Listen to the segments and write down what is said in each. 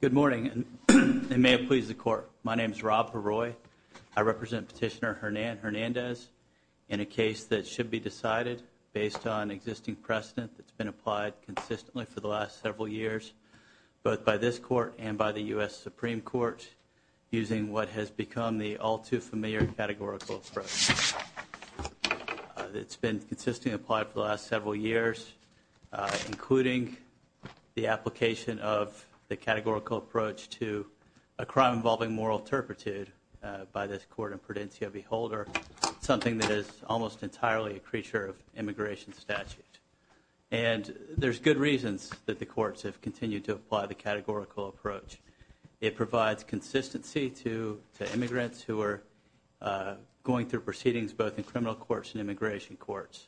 Good morning, and may it please the Court, my name is Rob LeRoy. I represent Petitioner Hernan Hernandez in a case that should be decided based on existing precedent that's been applied consistently for the last several years, both by this Court and by the U.S. Supreme Court, using what has become the all-too-familiar categorical approach that's been consistently applied for the last several years, including the application of the categorical approach to a crime involving moral turpitude by this Court in Prudencia v. Holder, something that is almost entirely a creature of immigration statute. And there's good reasons that the courts have continued to apply the categorical approach. It provides consistency to immigrants who are going through proceedings both in criminal courts and immigration courts.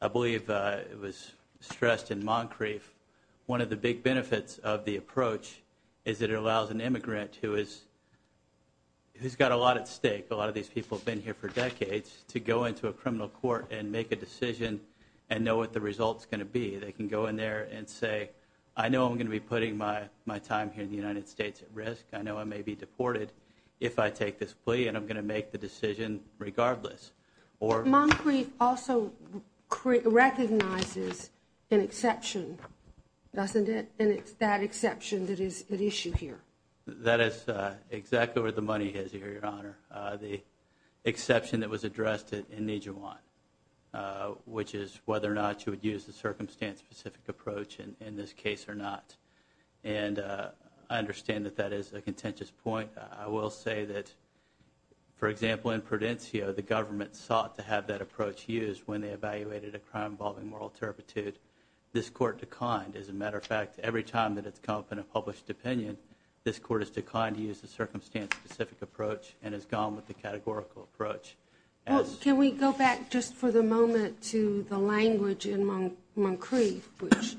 I believe it was stressed in Moncrief, one of the big benefits of the approach is it allows an immigrant who has got a lot at stake, a lot of these people have been here for decades, to go into a criminal court and make a decision and know what the result's going to be. They can go in there and say, I know I'm going to be putting my time here in the United States at risk, I know I may be deported if I take this plea and I'm going to make the decision regardless. Moncrief also recognizes an exception, doesn't it? And it's that exception that is at issue here. That is exactly where the money is here, Your Honor. The exception that was addressed in Nijewan, which is whether or not you would use the circumstance-specific approach in this case or not. And I understand that that is a contentious point. I will say that, for example, in Prudencia, the government sought to have that approach used when they evaluated a crime involving moral turpitude. This Court declined. As a matter of fact, every time that it's come up in a published opinion, this Court has declined to use the circumstance-specific approach and has gone with the categorical approach. Can we go back just for the moment to the language in Moncrief, which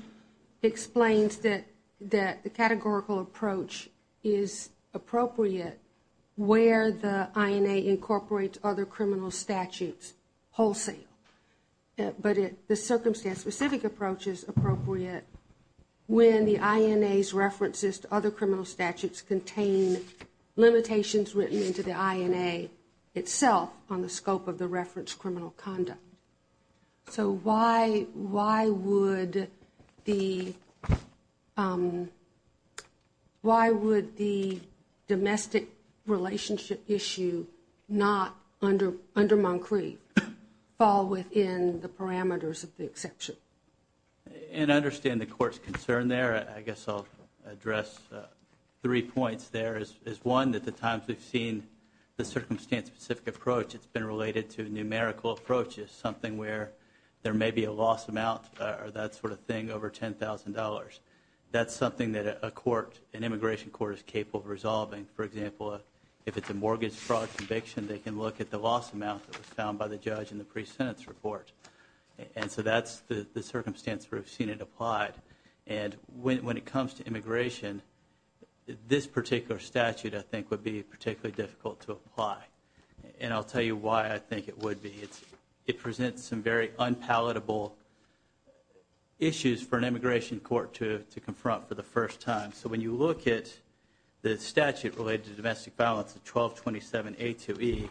explains that the categorical approach is appropriate where the INA incorporates other criminal statutes wholesale. But the circumstance-specific approach is appropriate when the INA's references to criminal statutes contain limitations written into the INA itself on the scope of the reference criminal conduct. So why would the domestic relationship issue not, under Moncrief, fall within the parameters of the exception? And I understand the Court's concern there. I think three points there is one, that the times we've seen the circumstance-specific approach, it's been related to numerical approaches, something where there may be a loss amount or that sort of thing over ten thousand dollars. That's something that a court, an immigration court, is capable of resolving. For example, if it's a mortgage fraud conviction, they can look at the loss amount that was found by the judge in the pre-sentence report. And so that's the circumstance where we've seen it applied. And when it comes to this particular statute, I think would be particularly difficult to apply. And I'll tell you why I think it would be. It presents some very unpalatable issues for an immigration court to confront for the first time. So when you look at the statute related to domestic violence, the 1227A2E,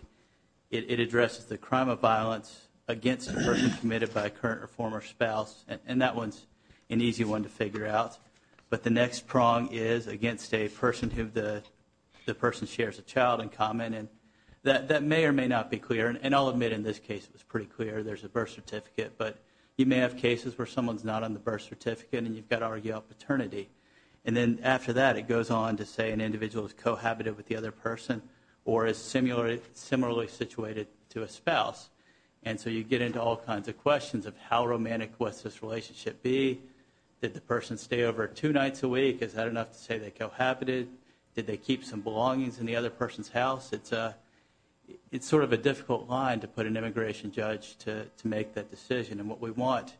it addresses the crime of violence against a person committed by a current or former spouse. And that one's an easy one to figure out. But the next prong is against a person who the person shares a child in common. And that may or may not be clear. And I'll admit in this case it was pretty clear. There's a birth certificate. But you may have cases where someone's not on the birth certificate and you've got to argue about paternity. And then after that, it goes on to say an individual is cohabited with the other person or is similarly situated to a spouse. And so you get into all kinds of questions of how romantic was this relationship be? Did the person stay over two nights a week? Is that enough to say they cohabited? Did they keep some belongings in the other person's house? It's sort of a difficult line to put an immigration judge to make that decision. And what we want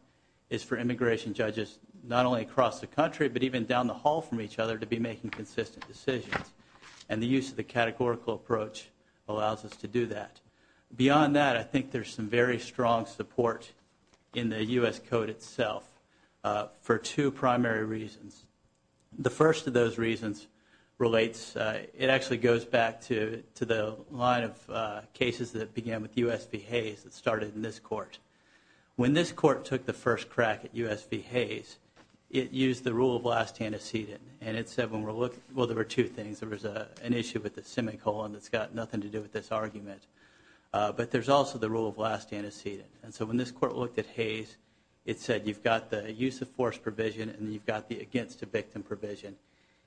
is for immigration judges not only across the country but even down the hall from each other to be making consistent decisions. And the use of the categorical approach allows us to do that. Beyond that, I think there's some very strong support in the U.S. Code itself for two primary reasons. The first of those reasons relates, it actually goes back to the line of cases that began with U.S. v. Hayes that started in this court. When this court took the first crack at U.S. v. Hayes, it used the rule of last antecedent. And it said when we're looking, well there were two things. There was an issue with the semicolon that's got nothing to do with this argument. But there's also the rule of last antecedent. And so when this court looked at Hayes, it said you've got the use of force provision and you've got the against a victim provision.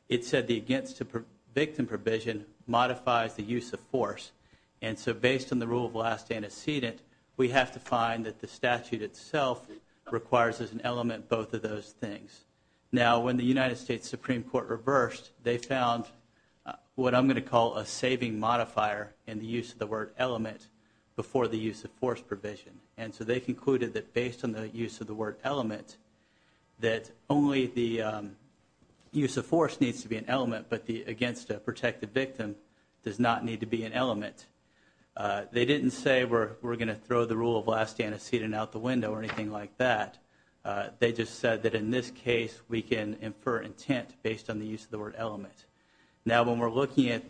It said the against a victim provision modifies the use of force. And so based on the rule of last antecedent, we have to find that the statute itself requires as an element both of those things. Now when the United States Supreme Court reversed, they found what I'm going to call a saving modifier in the use of the word element before the use of force provision. And so they concluded that based on the use of the word element, that only the use of force needs to be an element, but the against a protected victim does not need to be an element. They didn't say we're going to throw the rule of last antecedent out the window or anything like that. They just said that in this case we can infer intent based on the use of the word element. Now when we're looking at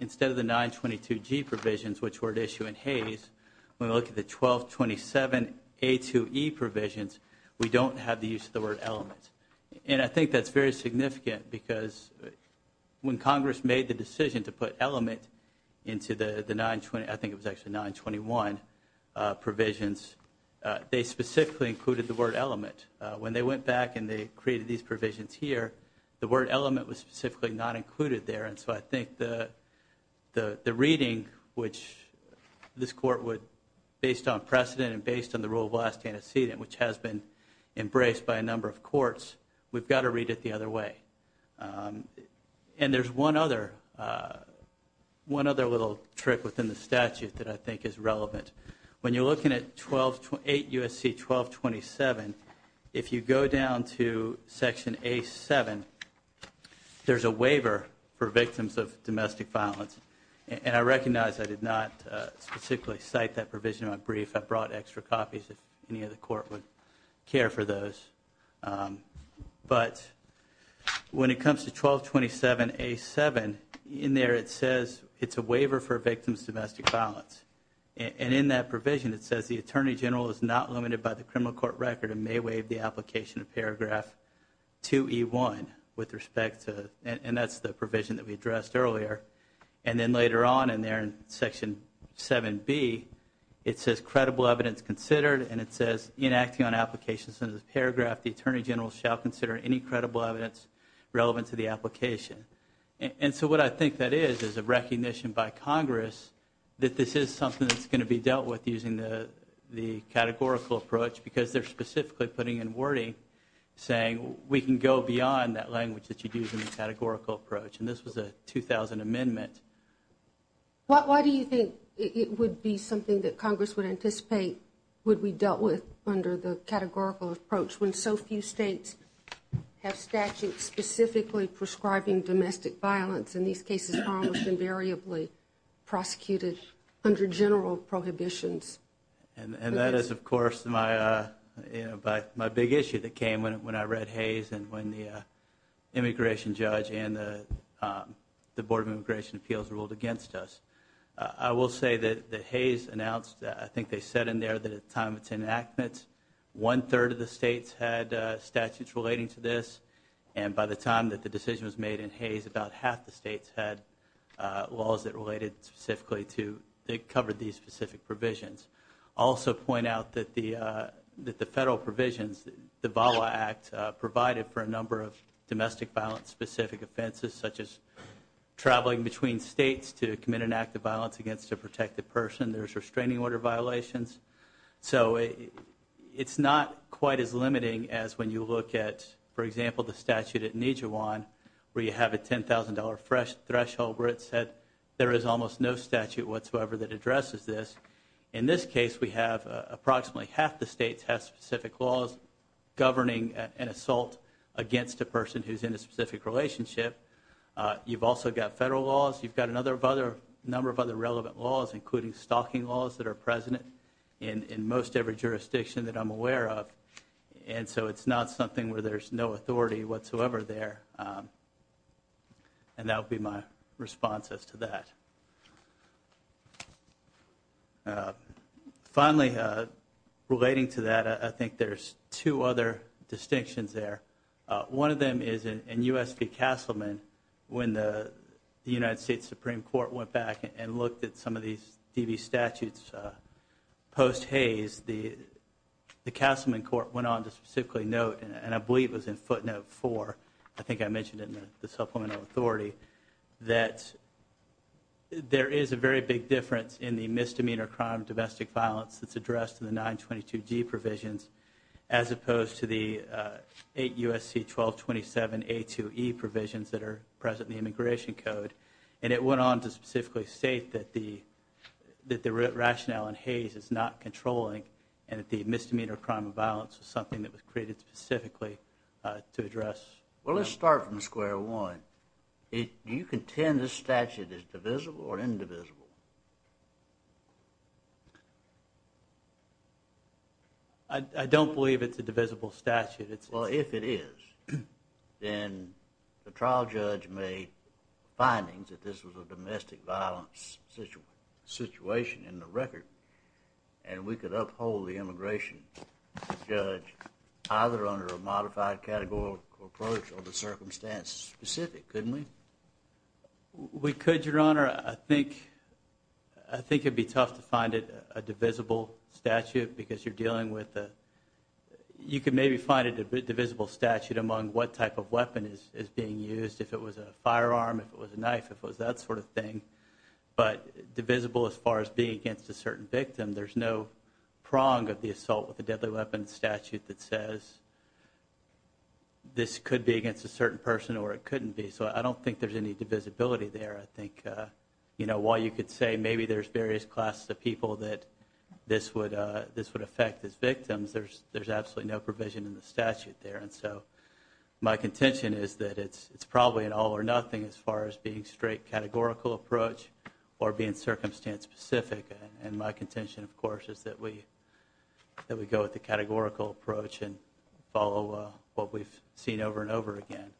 instead of the 922G provisions, which were at issue in Hayes, when we look at the 1227A2E provisions, we don't have the use of the word element. And I think that's very significant because when Congress made the decision to put element into the 920, I think it was actually 921 provisions, they specifically included the word element. When they went back and they created these provisions here, the word element was specifically not included there. And so I think the reading, which this court would, based on precedent and based on the rule of last antecedent, which has been embraced by a number of courts, we've got to read it the other way. And there's one other little trick within the statute that I think is relevant. When you're looking at 8 U.S.C. 1227, if you go down to section A7, there's a waiver for victims of domestic violence. And I recognize I did not specifically cite that provision in my brief. I brought extra copies if any of the court would care for those. But when it comes to 1227A7, in there it says it's a waiver for victims of domestic violence. The attorney general is not limited by the criminal court record and may waive the application of paragraph 2E1 with respect to, and that's the provision that we addressed earlier. And then later on in there in section 7B, it says credible evidence considered. And it says, in acting on applications under this paragraph, the attorney general shall consider any credible evidence relevant to the application. And so what I think that is, is a recognition by Congress that this is something that's going to be dealt with using the categorical approach, because they're specifically putting in wording saying we can go beyond that language that you use in the categorical approach. And this was a 2000 amendment. Why do you think it would be something that Congress would anticipate would be dealt with under the categorical approach, when so few states have statutes specifically prescribing domestic violence, in these cases almost invariably, prosecuted under general prohibitions? And that is, of course, my big issue that came when I read Hayes and when the immigration judge and the Board of Immigration Appeals ruled against us. I will say that Hayes announced, I think they said in there, that at the time of its enactment, one-third of the states had statutes relating to this. And by the time that the decision was made in Hayes, about half the states had laws that related specifically to, that covered these specific provisions. I'll also point out that the federal provisions, the VAWA Act, provided for a number of domestic violence specific offenses, such as traveling between states to commit an act of violence against a protected person. There's restraining order violations. So it's not quite as limiting as when you look at, for example, the statute at Nijawan, where you have a $10,000 threshold, where it said there is almost no statute whatsoever that addresses this. In this case, we have approximately half the states have specific laws governing an assault against a person who's in a specific relationship. You've also got federal laws. You've got a number of other relevant laws, including stalking laws that are present in most every jurisdiction that I'm aware of. And so it's not something where there's no authority whatsoever there. And that would be my response as to that. Finally, relating to that, I think there's two other distinctions there. One of them is in U.S. v. Castleman, when the United States Supreme Court went back and looked at some of these DV statutes post-Hayes, the Castleman court went on to specifically note, and I believe it was in footnote 4, I think I mentioned it in the supplemental authority, that there is a very big difference between the two statutes. There's a big difference in the misdemeanor crime of domestic violence that's addressed in the 922G provisions, as opposed to the 8 U.S.C. 1227A2E provisions that are present in the Immigration Code. And it went on to specifically state that the rationale in Hayes is not controlling, and that the misdemeanor crime of violence is something that was created specifically to address. Well, let's start from square one. Do you contend this statute is divisible or indivisible? I don't believe it's a divisible statute. Well, if it is, then the trial judge made findings that this was a domestic violence situation in the record, and we could uphold the immigration judge either under a modified categorical approach or the circumstance specific, couldn't we? We could, Your Honor. I think it would be tough to find a divisible statute, because you're dealing with a – you could maybe find a divisible statute among what type of weapon is being used, if it was a firearm, if it was a knife, if it was that sort of thing, but divisible as far as being against a certain victim, there's no prong of the assault with a deadly weapon statute that says this could be against a certain person or it couldn't be. So I don't think there's any divisibility there. I think while you could say maybe there's various classes of people that this would affect as victims, there's absolutely no provision in the statute there. And so my contention is that it's probably an all or nothing as far as being straight categorical approach or being circumstance specific. And my contention, of course, is that we go with the categorical approach and follow what we've seen over and over again.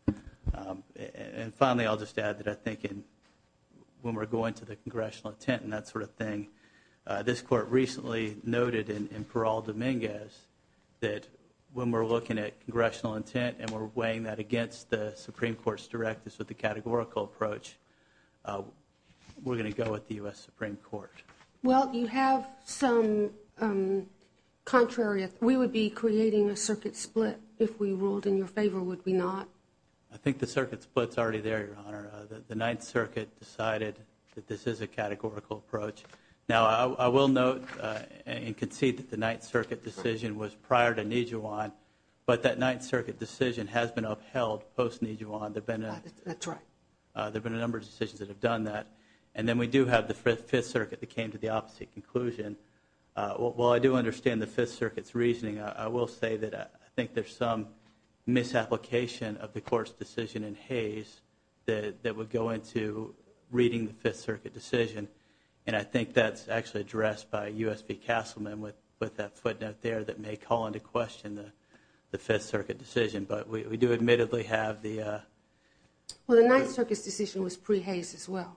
And finally, I'll just add that I think when we're going to the congressional intent and that sort of thing, this Court recently noted in Parral-Dominguez that when we're looking at congressional intent and we're weighing that against the Supreme Court's directives with the categorical approach, we're going to go with the U.S. Supreme Court. Well, you have some contrary – we would be creating a circuit split if we ruled in your favor, would we not? I think the circuit split's already there, Your Honor. The Ninth Circuit decided that this is a categorical approach. Now, I will note and concede that the Ninth Circuit decision was prior to Nijuan, but that Ninth Circuit decision has been upheld post-Nijuan. That's right. There have been a number of decisions that have done that. And then we do have the Fifth Circuit that came to the opposite conclusion. While I do understand the Fifth Circuit's reasoning, I will say that I think there's some misapplication of the Court's decision in Hayes that would go into reading the Fifth Circuit decision. And I think that's actually addressed by U.S.P. Castleman with that footnote there that may call into question the Fifth Circuit decision. But we do admittedly have the – Well, the Ninth Circuit's decision was pre-Hayes as well.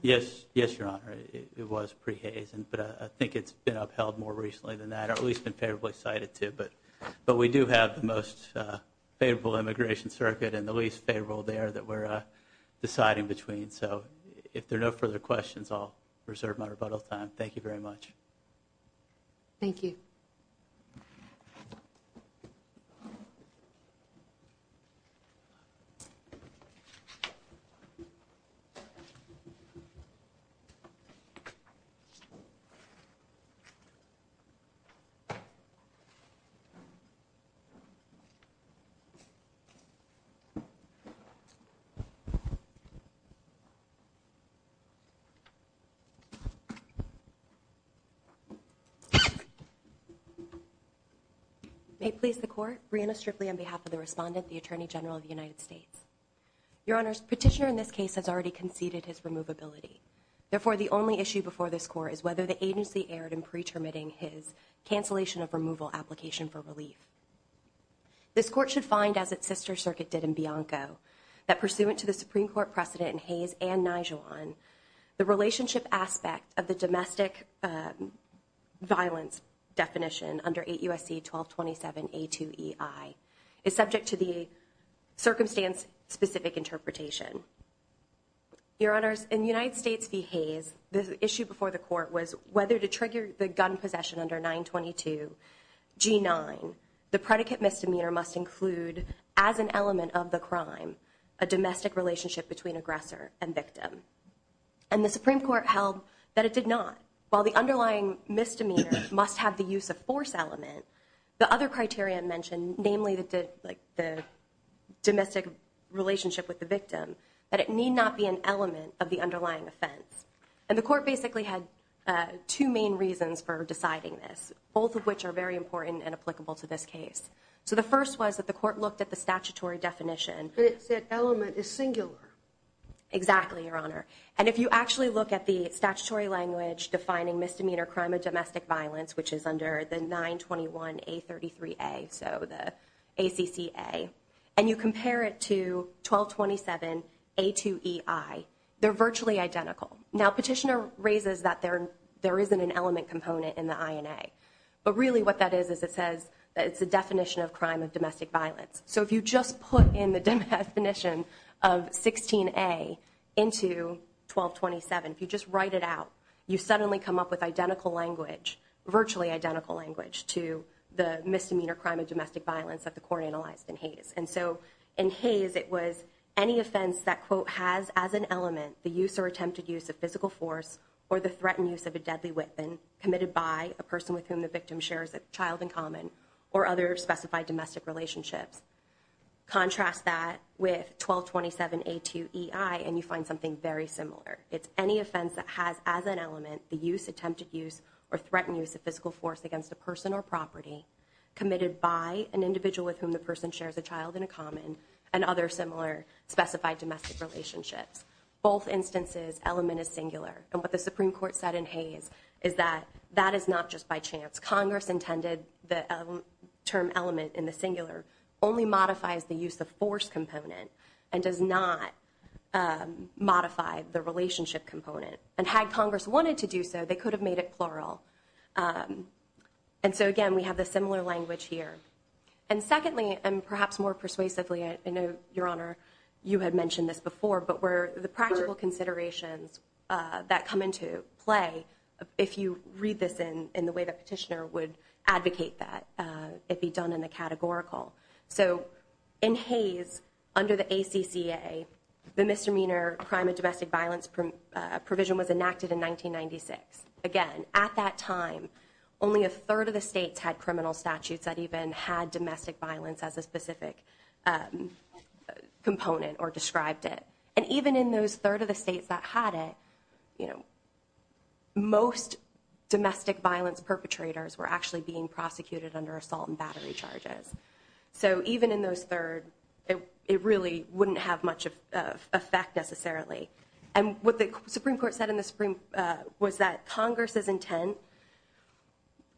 Yes, Your Honor. It was pre-Hayes. But I think it's been upheld more recently than that, or at least been favorably cited to. But we do have the most favorable immigration circuit and the least favorable there that we're deciding between. So if there are no further questions, I'll reserve my rebuttal time. Thank you very much. Thank you. May it please the Court, Breanna Stripley on behalf of the Respondent, the Attorney General of the United States. Your Honors, Petitioner in this case has already conceded his removability. Therefore, the only issue before this Court is whether the agency erred in pretermitting his cancellation of removal application for relief. This Court should find, as its sister circuit did in Bianco, that pursuant to the Supreme Court precedent in Hayes and Nijewan, the relationship aspect of the domestic violence definition under 8 U.S.C. 1227A2EI is subject to the circumstance-specific interpretation. Your Honors, in United States v. Hayes, the issue before the Court was whether to trigger the gun possession under 922 G9, the predicate misdemeanor must include, as an element of the crime, a domestic relationship between aggressor and victim. And the Supreme Court held that it did not. While the underlying misdemeanor must have the use of force element, the other criteria mentioned, namely the domestic relationship with the victim, that it need not be an element of the underlying offense. And the Court basically had two main reasons for deciding this, both of which are very important and applicable to this case. So the first was that the Court looked at the statutory definition. And it said element is singular. Exactly, Your Honor. And if you actually look at the statutory language defining misdemeanor crime of domestic violence, which is under the 921A33A, so the ACCA, and you compare it to 1227A2EI, they're virtually identical. Now, Petitioner raises that there isn't an element component in the INA. But really what that is is it says that it's a definition of crime of domestic violence. So if you just put in the definition of 16A into 1227, if you just write it out, you suddenly come up with identical language, virtually identical language, to the misdemeanor crime of domestic violence that the Court analyzed in Hays. And so in Hays, it was any offense that, quote, has as an element the use or attempted use of physical force or the threatened use of a deadly weapon committed by a person with whom the victim shares a child in common or other specified domestic relationships. Contrast that with 1227A2EI, and you find something very similar. It's any offense that has as an element the use, attempted use, or threatened use of physical force against a person or property committed by an individual with whom the person shares a child in a common and other similar specified domestic relationships. Both instances, element is singular. And what the Supreme Court said in Hays is that that is not just by chance. Congress intended the term element in the singular only modifies the use of force component and does not modify the relationship component. And had Congress wanted to do so, they could have made it plural. And so again, we have the similar language here. And secondly, and perhaps more persuasively, I know, Your Honor, you had mentioned this before, but where the practical considerations that come into play, if you read this in the way the petitioner would advocate that, it be done in a categorical. So in Hays, under the ACCA, the misdemeanor crime of domestic violence provision was enacted in 1996. Again, at that time, only a third of the states had criminal statutes that even had domestic violence as a specific component or described it. And even in those third of the states that had it, most domestic violence perpetrators were actually being prosecuted under assault and battery charges. So even in those third, it really wouldn't have much effect necessarily. And what the Supreme Court said in the Supreme was that Congress's intent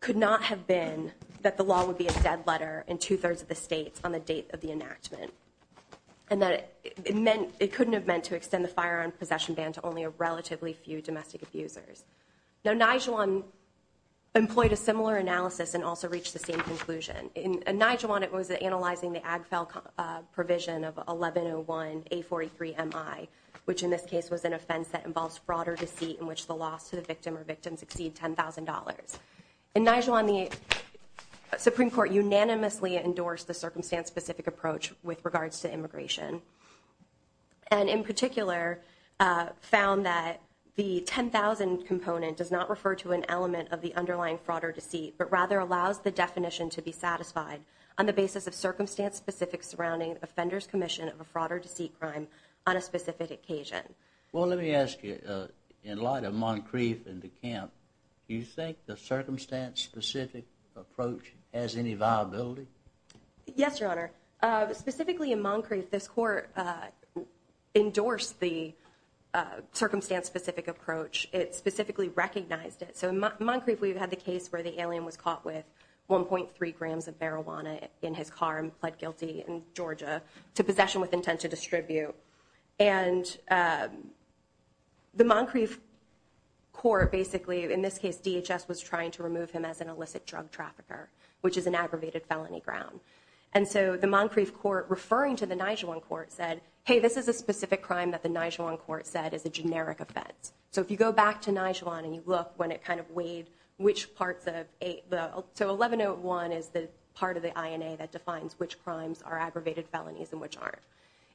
could not have been that the law would be a dead letter in two-thirds of the states on the date of the enactment. And that it meant, it couldn't have meant to extend the firearm possession ban to only a relatively few domestic abusers. Now, Nijuan employed a similar analysis and also reached the same conclusion. In Nijuan, it was analyzing the AGFEL provision of 1101A43MI, which in this case was an offense that involves fraud or deceit in which the loss to the victim or victims exceed $10,000. In Nijuan, the Supreme Court unanimously endorsed the circumstance-specific approach with regards to immigration. And in particular, found that the $10,000 component does not refer to an element of the underlying fraud or deceit, but rather allows the definition to be satisfied on the basis of circumstance-specific surrounding offender's commission of a fraud or deceit crime on a specific occasion. Well, let me ask you, in light of Moncrief and DeKalb, do you think the circumstance-specific approach has any viability? Yes, Your Honor. Specifically in Moncrief, this court endorsed the circumstance-specific approach. It specifically recognized it. So in Moncrief, we've had the case where the alien was caught with 1.3 grams of marijuana in his car and pled guilty in Georgia to possession with intent to distribute. And the Moncrief court basically, in this case, DHS, was trying to remove him as an illicit drug trafficker, which is an aggravated felony ground. And so the Moncrief court, referring to the Nijuan court, said, hey, this is a specific crime that the Nijuan court said is a generic offense. So if you go back to Nijuan and you look when it kind of weighed which parts of – so 1101 is the part of the INA that defines which crimes are aggravated felonies and which aren't.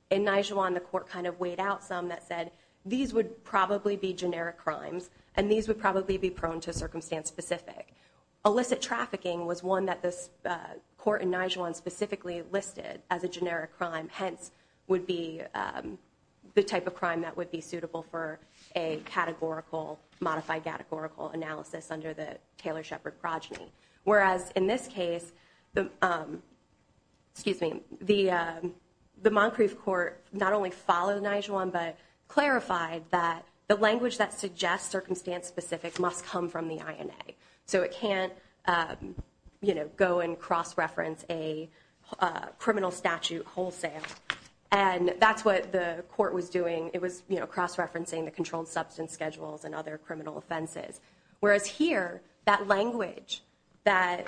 In Nijuan, the court kind of weighed out some that said these would probably be generic crimes and these would probably be prone to circumstance-specific. Illicit trafficking was one that this court in Nijuan specifically listed as a generic crime, hence would be the type of crime that would be suitable for a categorical, modified categorical analysis under the Taylor-Shepard progeny. Whereas in this case, the Moncrief court not only followed Nijuan but clarified that the language that suggests circumstance-specific must come from the INA. So it can't go and cross-reference a criminal statute wholesale. And that's what the court was doing. It was cross-referencing the controlled substance schedules and other criminal offenses. Whereas here, that language that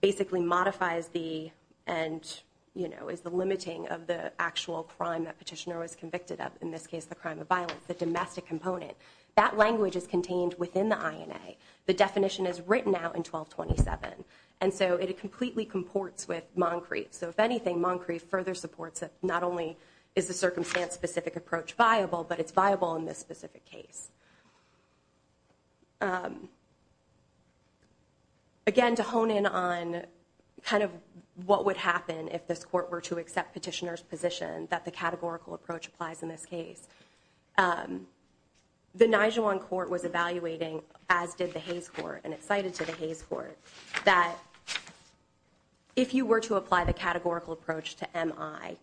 basically modifies the – and, you know, is the limiting of the actual crime that petitioner was convicted of, in this case the crime of violence, the domestic component. That language is contained within the INA. The definition is written out in 1227. And so it completely comports with Moncrief. So if anything, Moncrief further supports that not only is the circumstance-specific approach viable, but it's viable in this specific case. Again, to hone in on kind of what would happen if this court were to accept petitioner's position, that the categorical approach applies in this case. The Nijuan court was evaluating, as did the Hayes court, and it cited to the Hayes court, that if you were to apply the categorical approach to MI,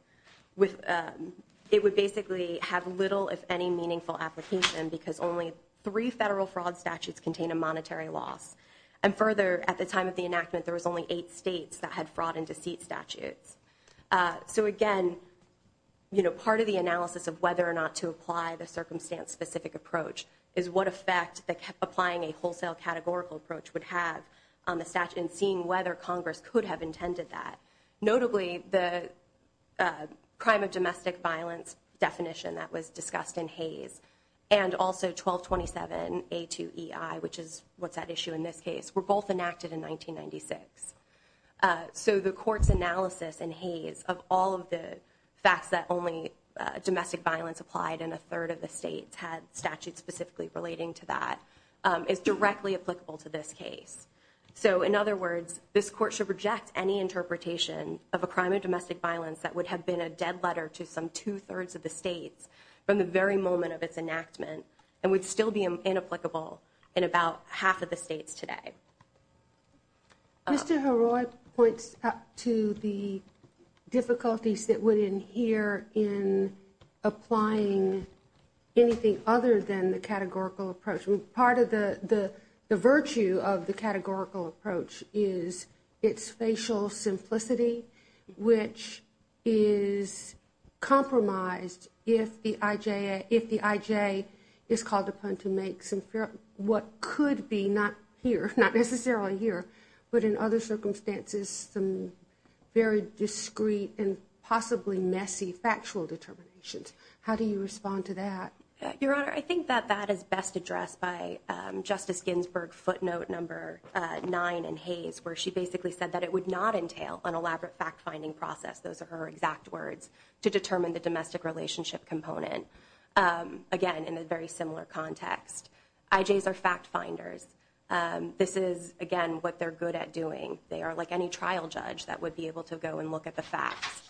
it would basically have little, if any, meaningful application because only three federal fraud statutes contain a monetary loss. And further, at the time of the enactment, there was only eight states that had fraud and deceit statutes. So, again, you know, part of the analysis of whether or not to apply the circumstance-specific approach is what effect applying a wholesale categorical approach would have on the statute and seeing whether Congress could have intended that. Notably, the crime of domestic violence definition that was discussed in Hayes and also 1227A2EI, which is what's at issue in this case, were both enacted in 1996. So the court's analysis in Hayes of all of the facts that only domestic violence applied and a third of the states had statutes specifically relating to that is directly applicable to this case. So, in other words, this court should reject any interpretation of a crime of domestic violence that would have been a dead letter to some two-thirds of the states from the very moment of its enactment and would still be inapplicable in about half of the states today. Mr. Haroi points out to the difficulties that were in here in applying anything other than the categorical approach. Part of the virtue of the categorical approach is its facial simplicity, which is compromised if the IJ is called upon to make what could be not here, not necessarily here, but in other circumstances some very discreet and possibly messy factual determinations. How do you respond to that? Your Honor, I think that that is best addressed by Justice Ginsburg footnote number nine in Hayes, where she basically said that it would not entail an elaborate fact-finding process, those are her exact words, to determine the domestic relationship component. Again, in a very similar context, IJs are fact-finders. This is, again, what they're good at doing. They are like any trial judge that would be able to go and look at the facts.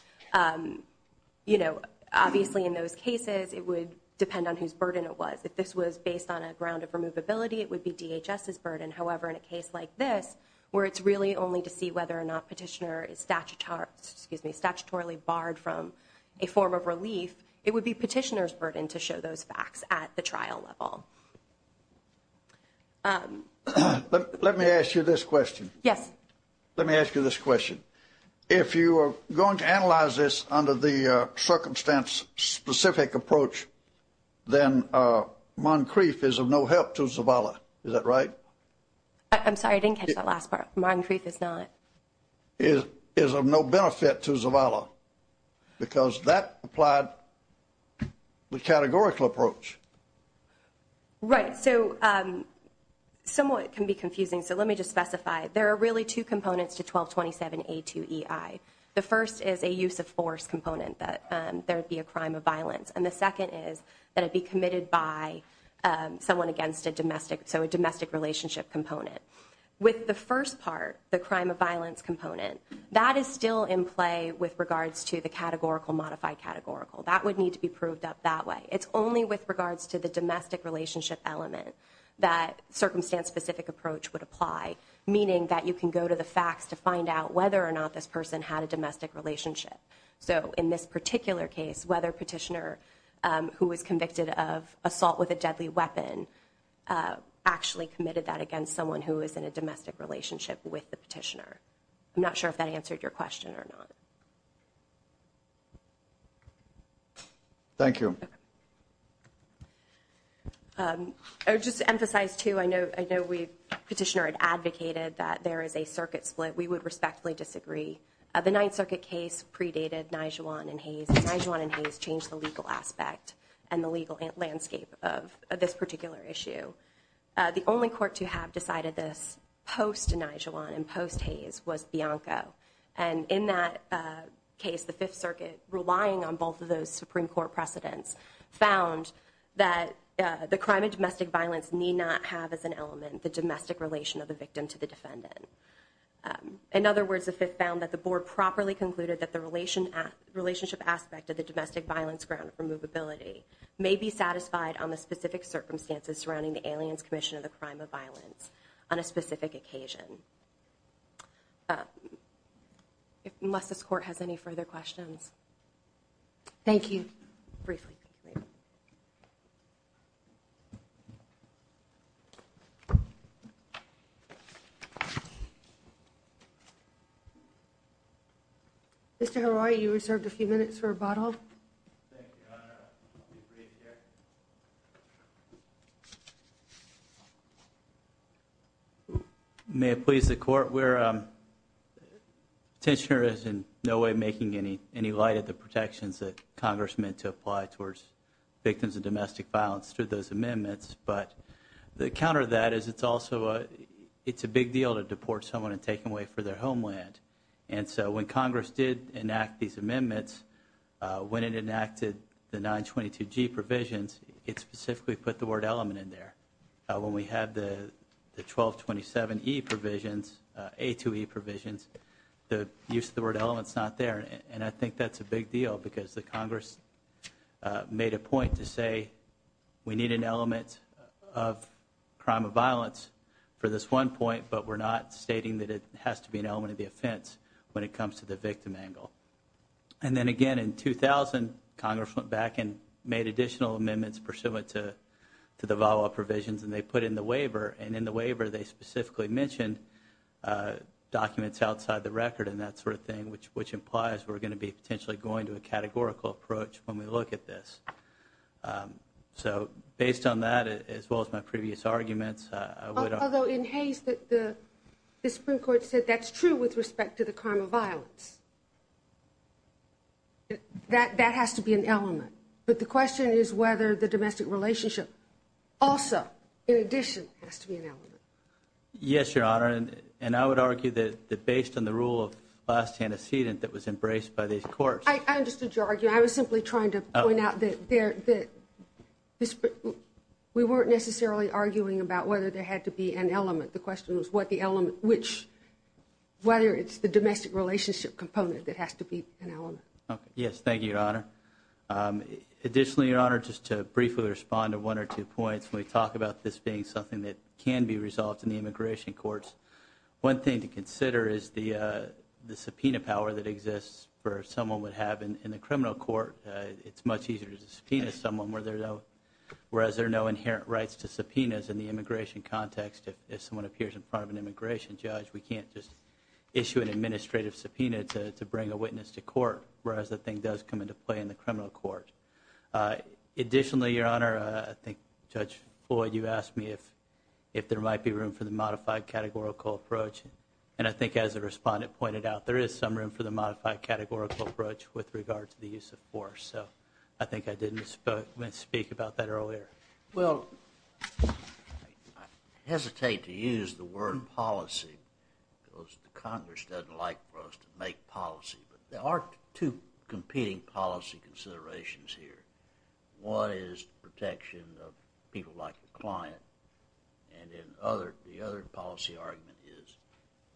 Obviously, in those cases, it would depend on whose burden it was. If this was based on a ground of removability, it would be DHS's burden. However, in a case like this, where it's really only to see whether or not petitioner is statutorily barred from a form of relief, it would be petitioner's burden to show those facts at the trial level. Let me ask you this question. Yes. Let me ask you this question. If you are going to analyze this under the circumstance-specific approach, then Moncrief is of no help to Zavala. Is that right? I'm sorry. I didn't catch that last part. Moncrief is not. Is of no benefit to Zavala, because that applied the categorical approach. Right. So somewhat it can be confusing, so let me just specify. There are really two components to 1227A2EI. The first is a use of force component, that there would be a crime of violence. And the second is that it be committed by someone against a domestic, so a domestic relationship component. With the first part, the crime of violence component, that is still in play with regards to the categorical modified categorical. That would need to be proved up that way. It's only with regards to the domestic relationship element that circumstance-specific approach would apply, meaning that you can go to the facts to find out whether or not this person had a domestic relationship. So in this particular case, whether Petitioner, who was convicted of assault with a deadly weapon, actually committed that against someone who was in a domestic relationship with the Petitioner. I'm not sure if that answered your question or not. Thank you. I would just emphasize, too, I know Petitioner had advocated that there is a circuit split. We would respectfully disagree. The Ninth Circuit case predated Nijewan and Hayes. Nijewan and Hayes changed the legal aspect and the legal landscape of this particular issue. The only court to have decided this post-Nijewan and post-Hayes was Bianco. And in that case, the Fifth Circuit, relying on both of those Supreme Court precedents, found that the crime of domestic violence need not have as an element the domestic relation of the victim to the defendant. In other words, the Fifth found that the board properly concluded that the relationship aspect of the domestic violence ground may be satisfied on the specific circumstances surrounding the Aliens Commission of the Crime of Violence on a specific occasion. Unless this Court has any further questions. Thank you. Briefly. Mr. Harari, you reserved a few minutes for rebuttal. Thank you, Your Honor. I'll be brief here. May it please the Court, Petitioner is in no way making any light of the protections that Congress meant to apply towards victims of domestic violence through those amendments. But the counter to that is it's also a big deal to deport someone and take them away for their homeland. And so when Congress did enact these amendments, when it enacteded the 922G provisions, it specifically put the word element in there. When we had the 1227E provisions, A2E provisions, the use of the word element is not there. And I think that's a big deal because the Congress made a point to say we need an element of crime of violence for this one point, but we're not stating that it has to be an element of the offense when it comes to the victim angle. And then again, in 2000, Congress went back and made additional amendments pursuant to the VAWA provisions, and they put in the waiver, and in the waiver they specifically mentioned documents outside the record and that sort of thing, which implies we're going to be potentially going to a categorical approach when we look at this. So based on that, as well as my previous arguments, I would argue. Although in Hays, the Supreme Court said that's true with respect to the crime of violence. That has to be an element. But the question is whether the domestic relationship also, in addition, has to be an element. Yes, Your Honor, and I would argue that based on the rule of last antecedent that was embraced by these courts. I understood your argument. I was simply trying to point out that we weren't necessarily arguing about whether there had to be an element. The question was whether it's the domestic relationship component that has to be an element. Yes, thank you, Your Honor. Additionally, Your Honor, just to briefly respond to one or two points, when we talk about this being something that can be resolved in the immigration courts, one thing to consider is the subpoena power that exists for someone would have in the criminal court. It's much easier to subpoena someone whereas there are no inherent rights to subpoenas in the immigration context. If someone appears in front of an immigration judge, we can't just issue an administrative subpoena to bring a witness to court, whereas the thing does come into play in the criminal court. Additionally, Your Honor, I think Judge Floyd, you asked me if there might be room for the modified categorical approach, and I think as the respondent pointed out, there is some room for the modified categorical approach with regard to the use of force. So I think I didn't speak about that earlier. Well, I hesitate to use the word policy because the Congress doesn't like for us to make policy, but there are two competing policy considerations here. One is the protection of people like the client, and the other policy argument is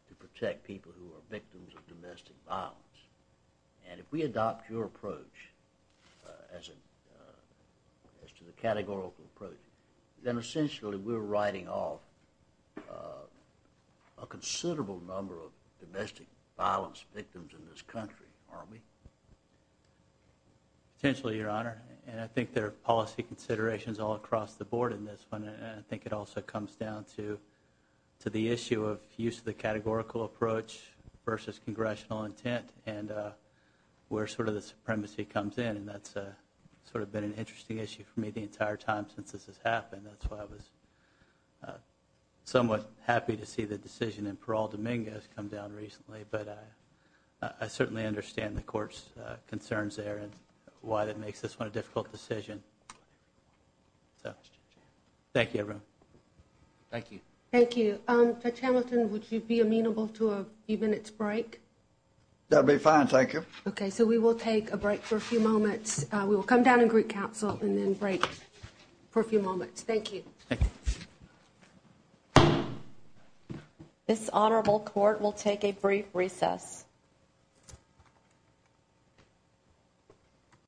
to protect people who are victims of domestic violence. And if we adopt your approach as to the categorical approach, then essentially we're writing off a considerable number of domestic violence victims in this country, aren't we? Potentially, Your Honor, and I think there are policy considerations all across the board in this one, and I think it also comes down to the issue of use of the categorical approach versus congressional intent and where sort of the supremacy comes in, and that's sort of been an interesting issue for me the entire time since this has happened. That's why I was somewhat happy to see the decision in Parole Dominguez come down recently, but I certainly understand the Court's concerns there and why that makes this one a difficult decision. So thank you, everyone. Thank you. Thank you. Judge Hamilton, would you be amenable to a few minutes break? That would be fine. Thank you. Okay, so we will take a break for a few moments. We will come down and greet counsel and then break for a few moments. Thank you. Thank you. This Honorable Court will take a brief recess.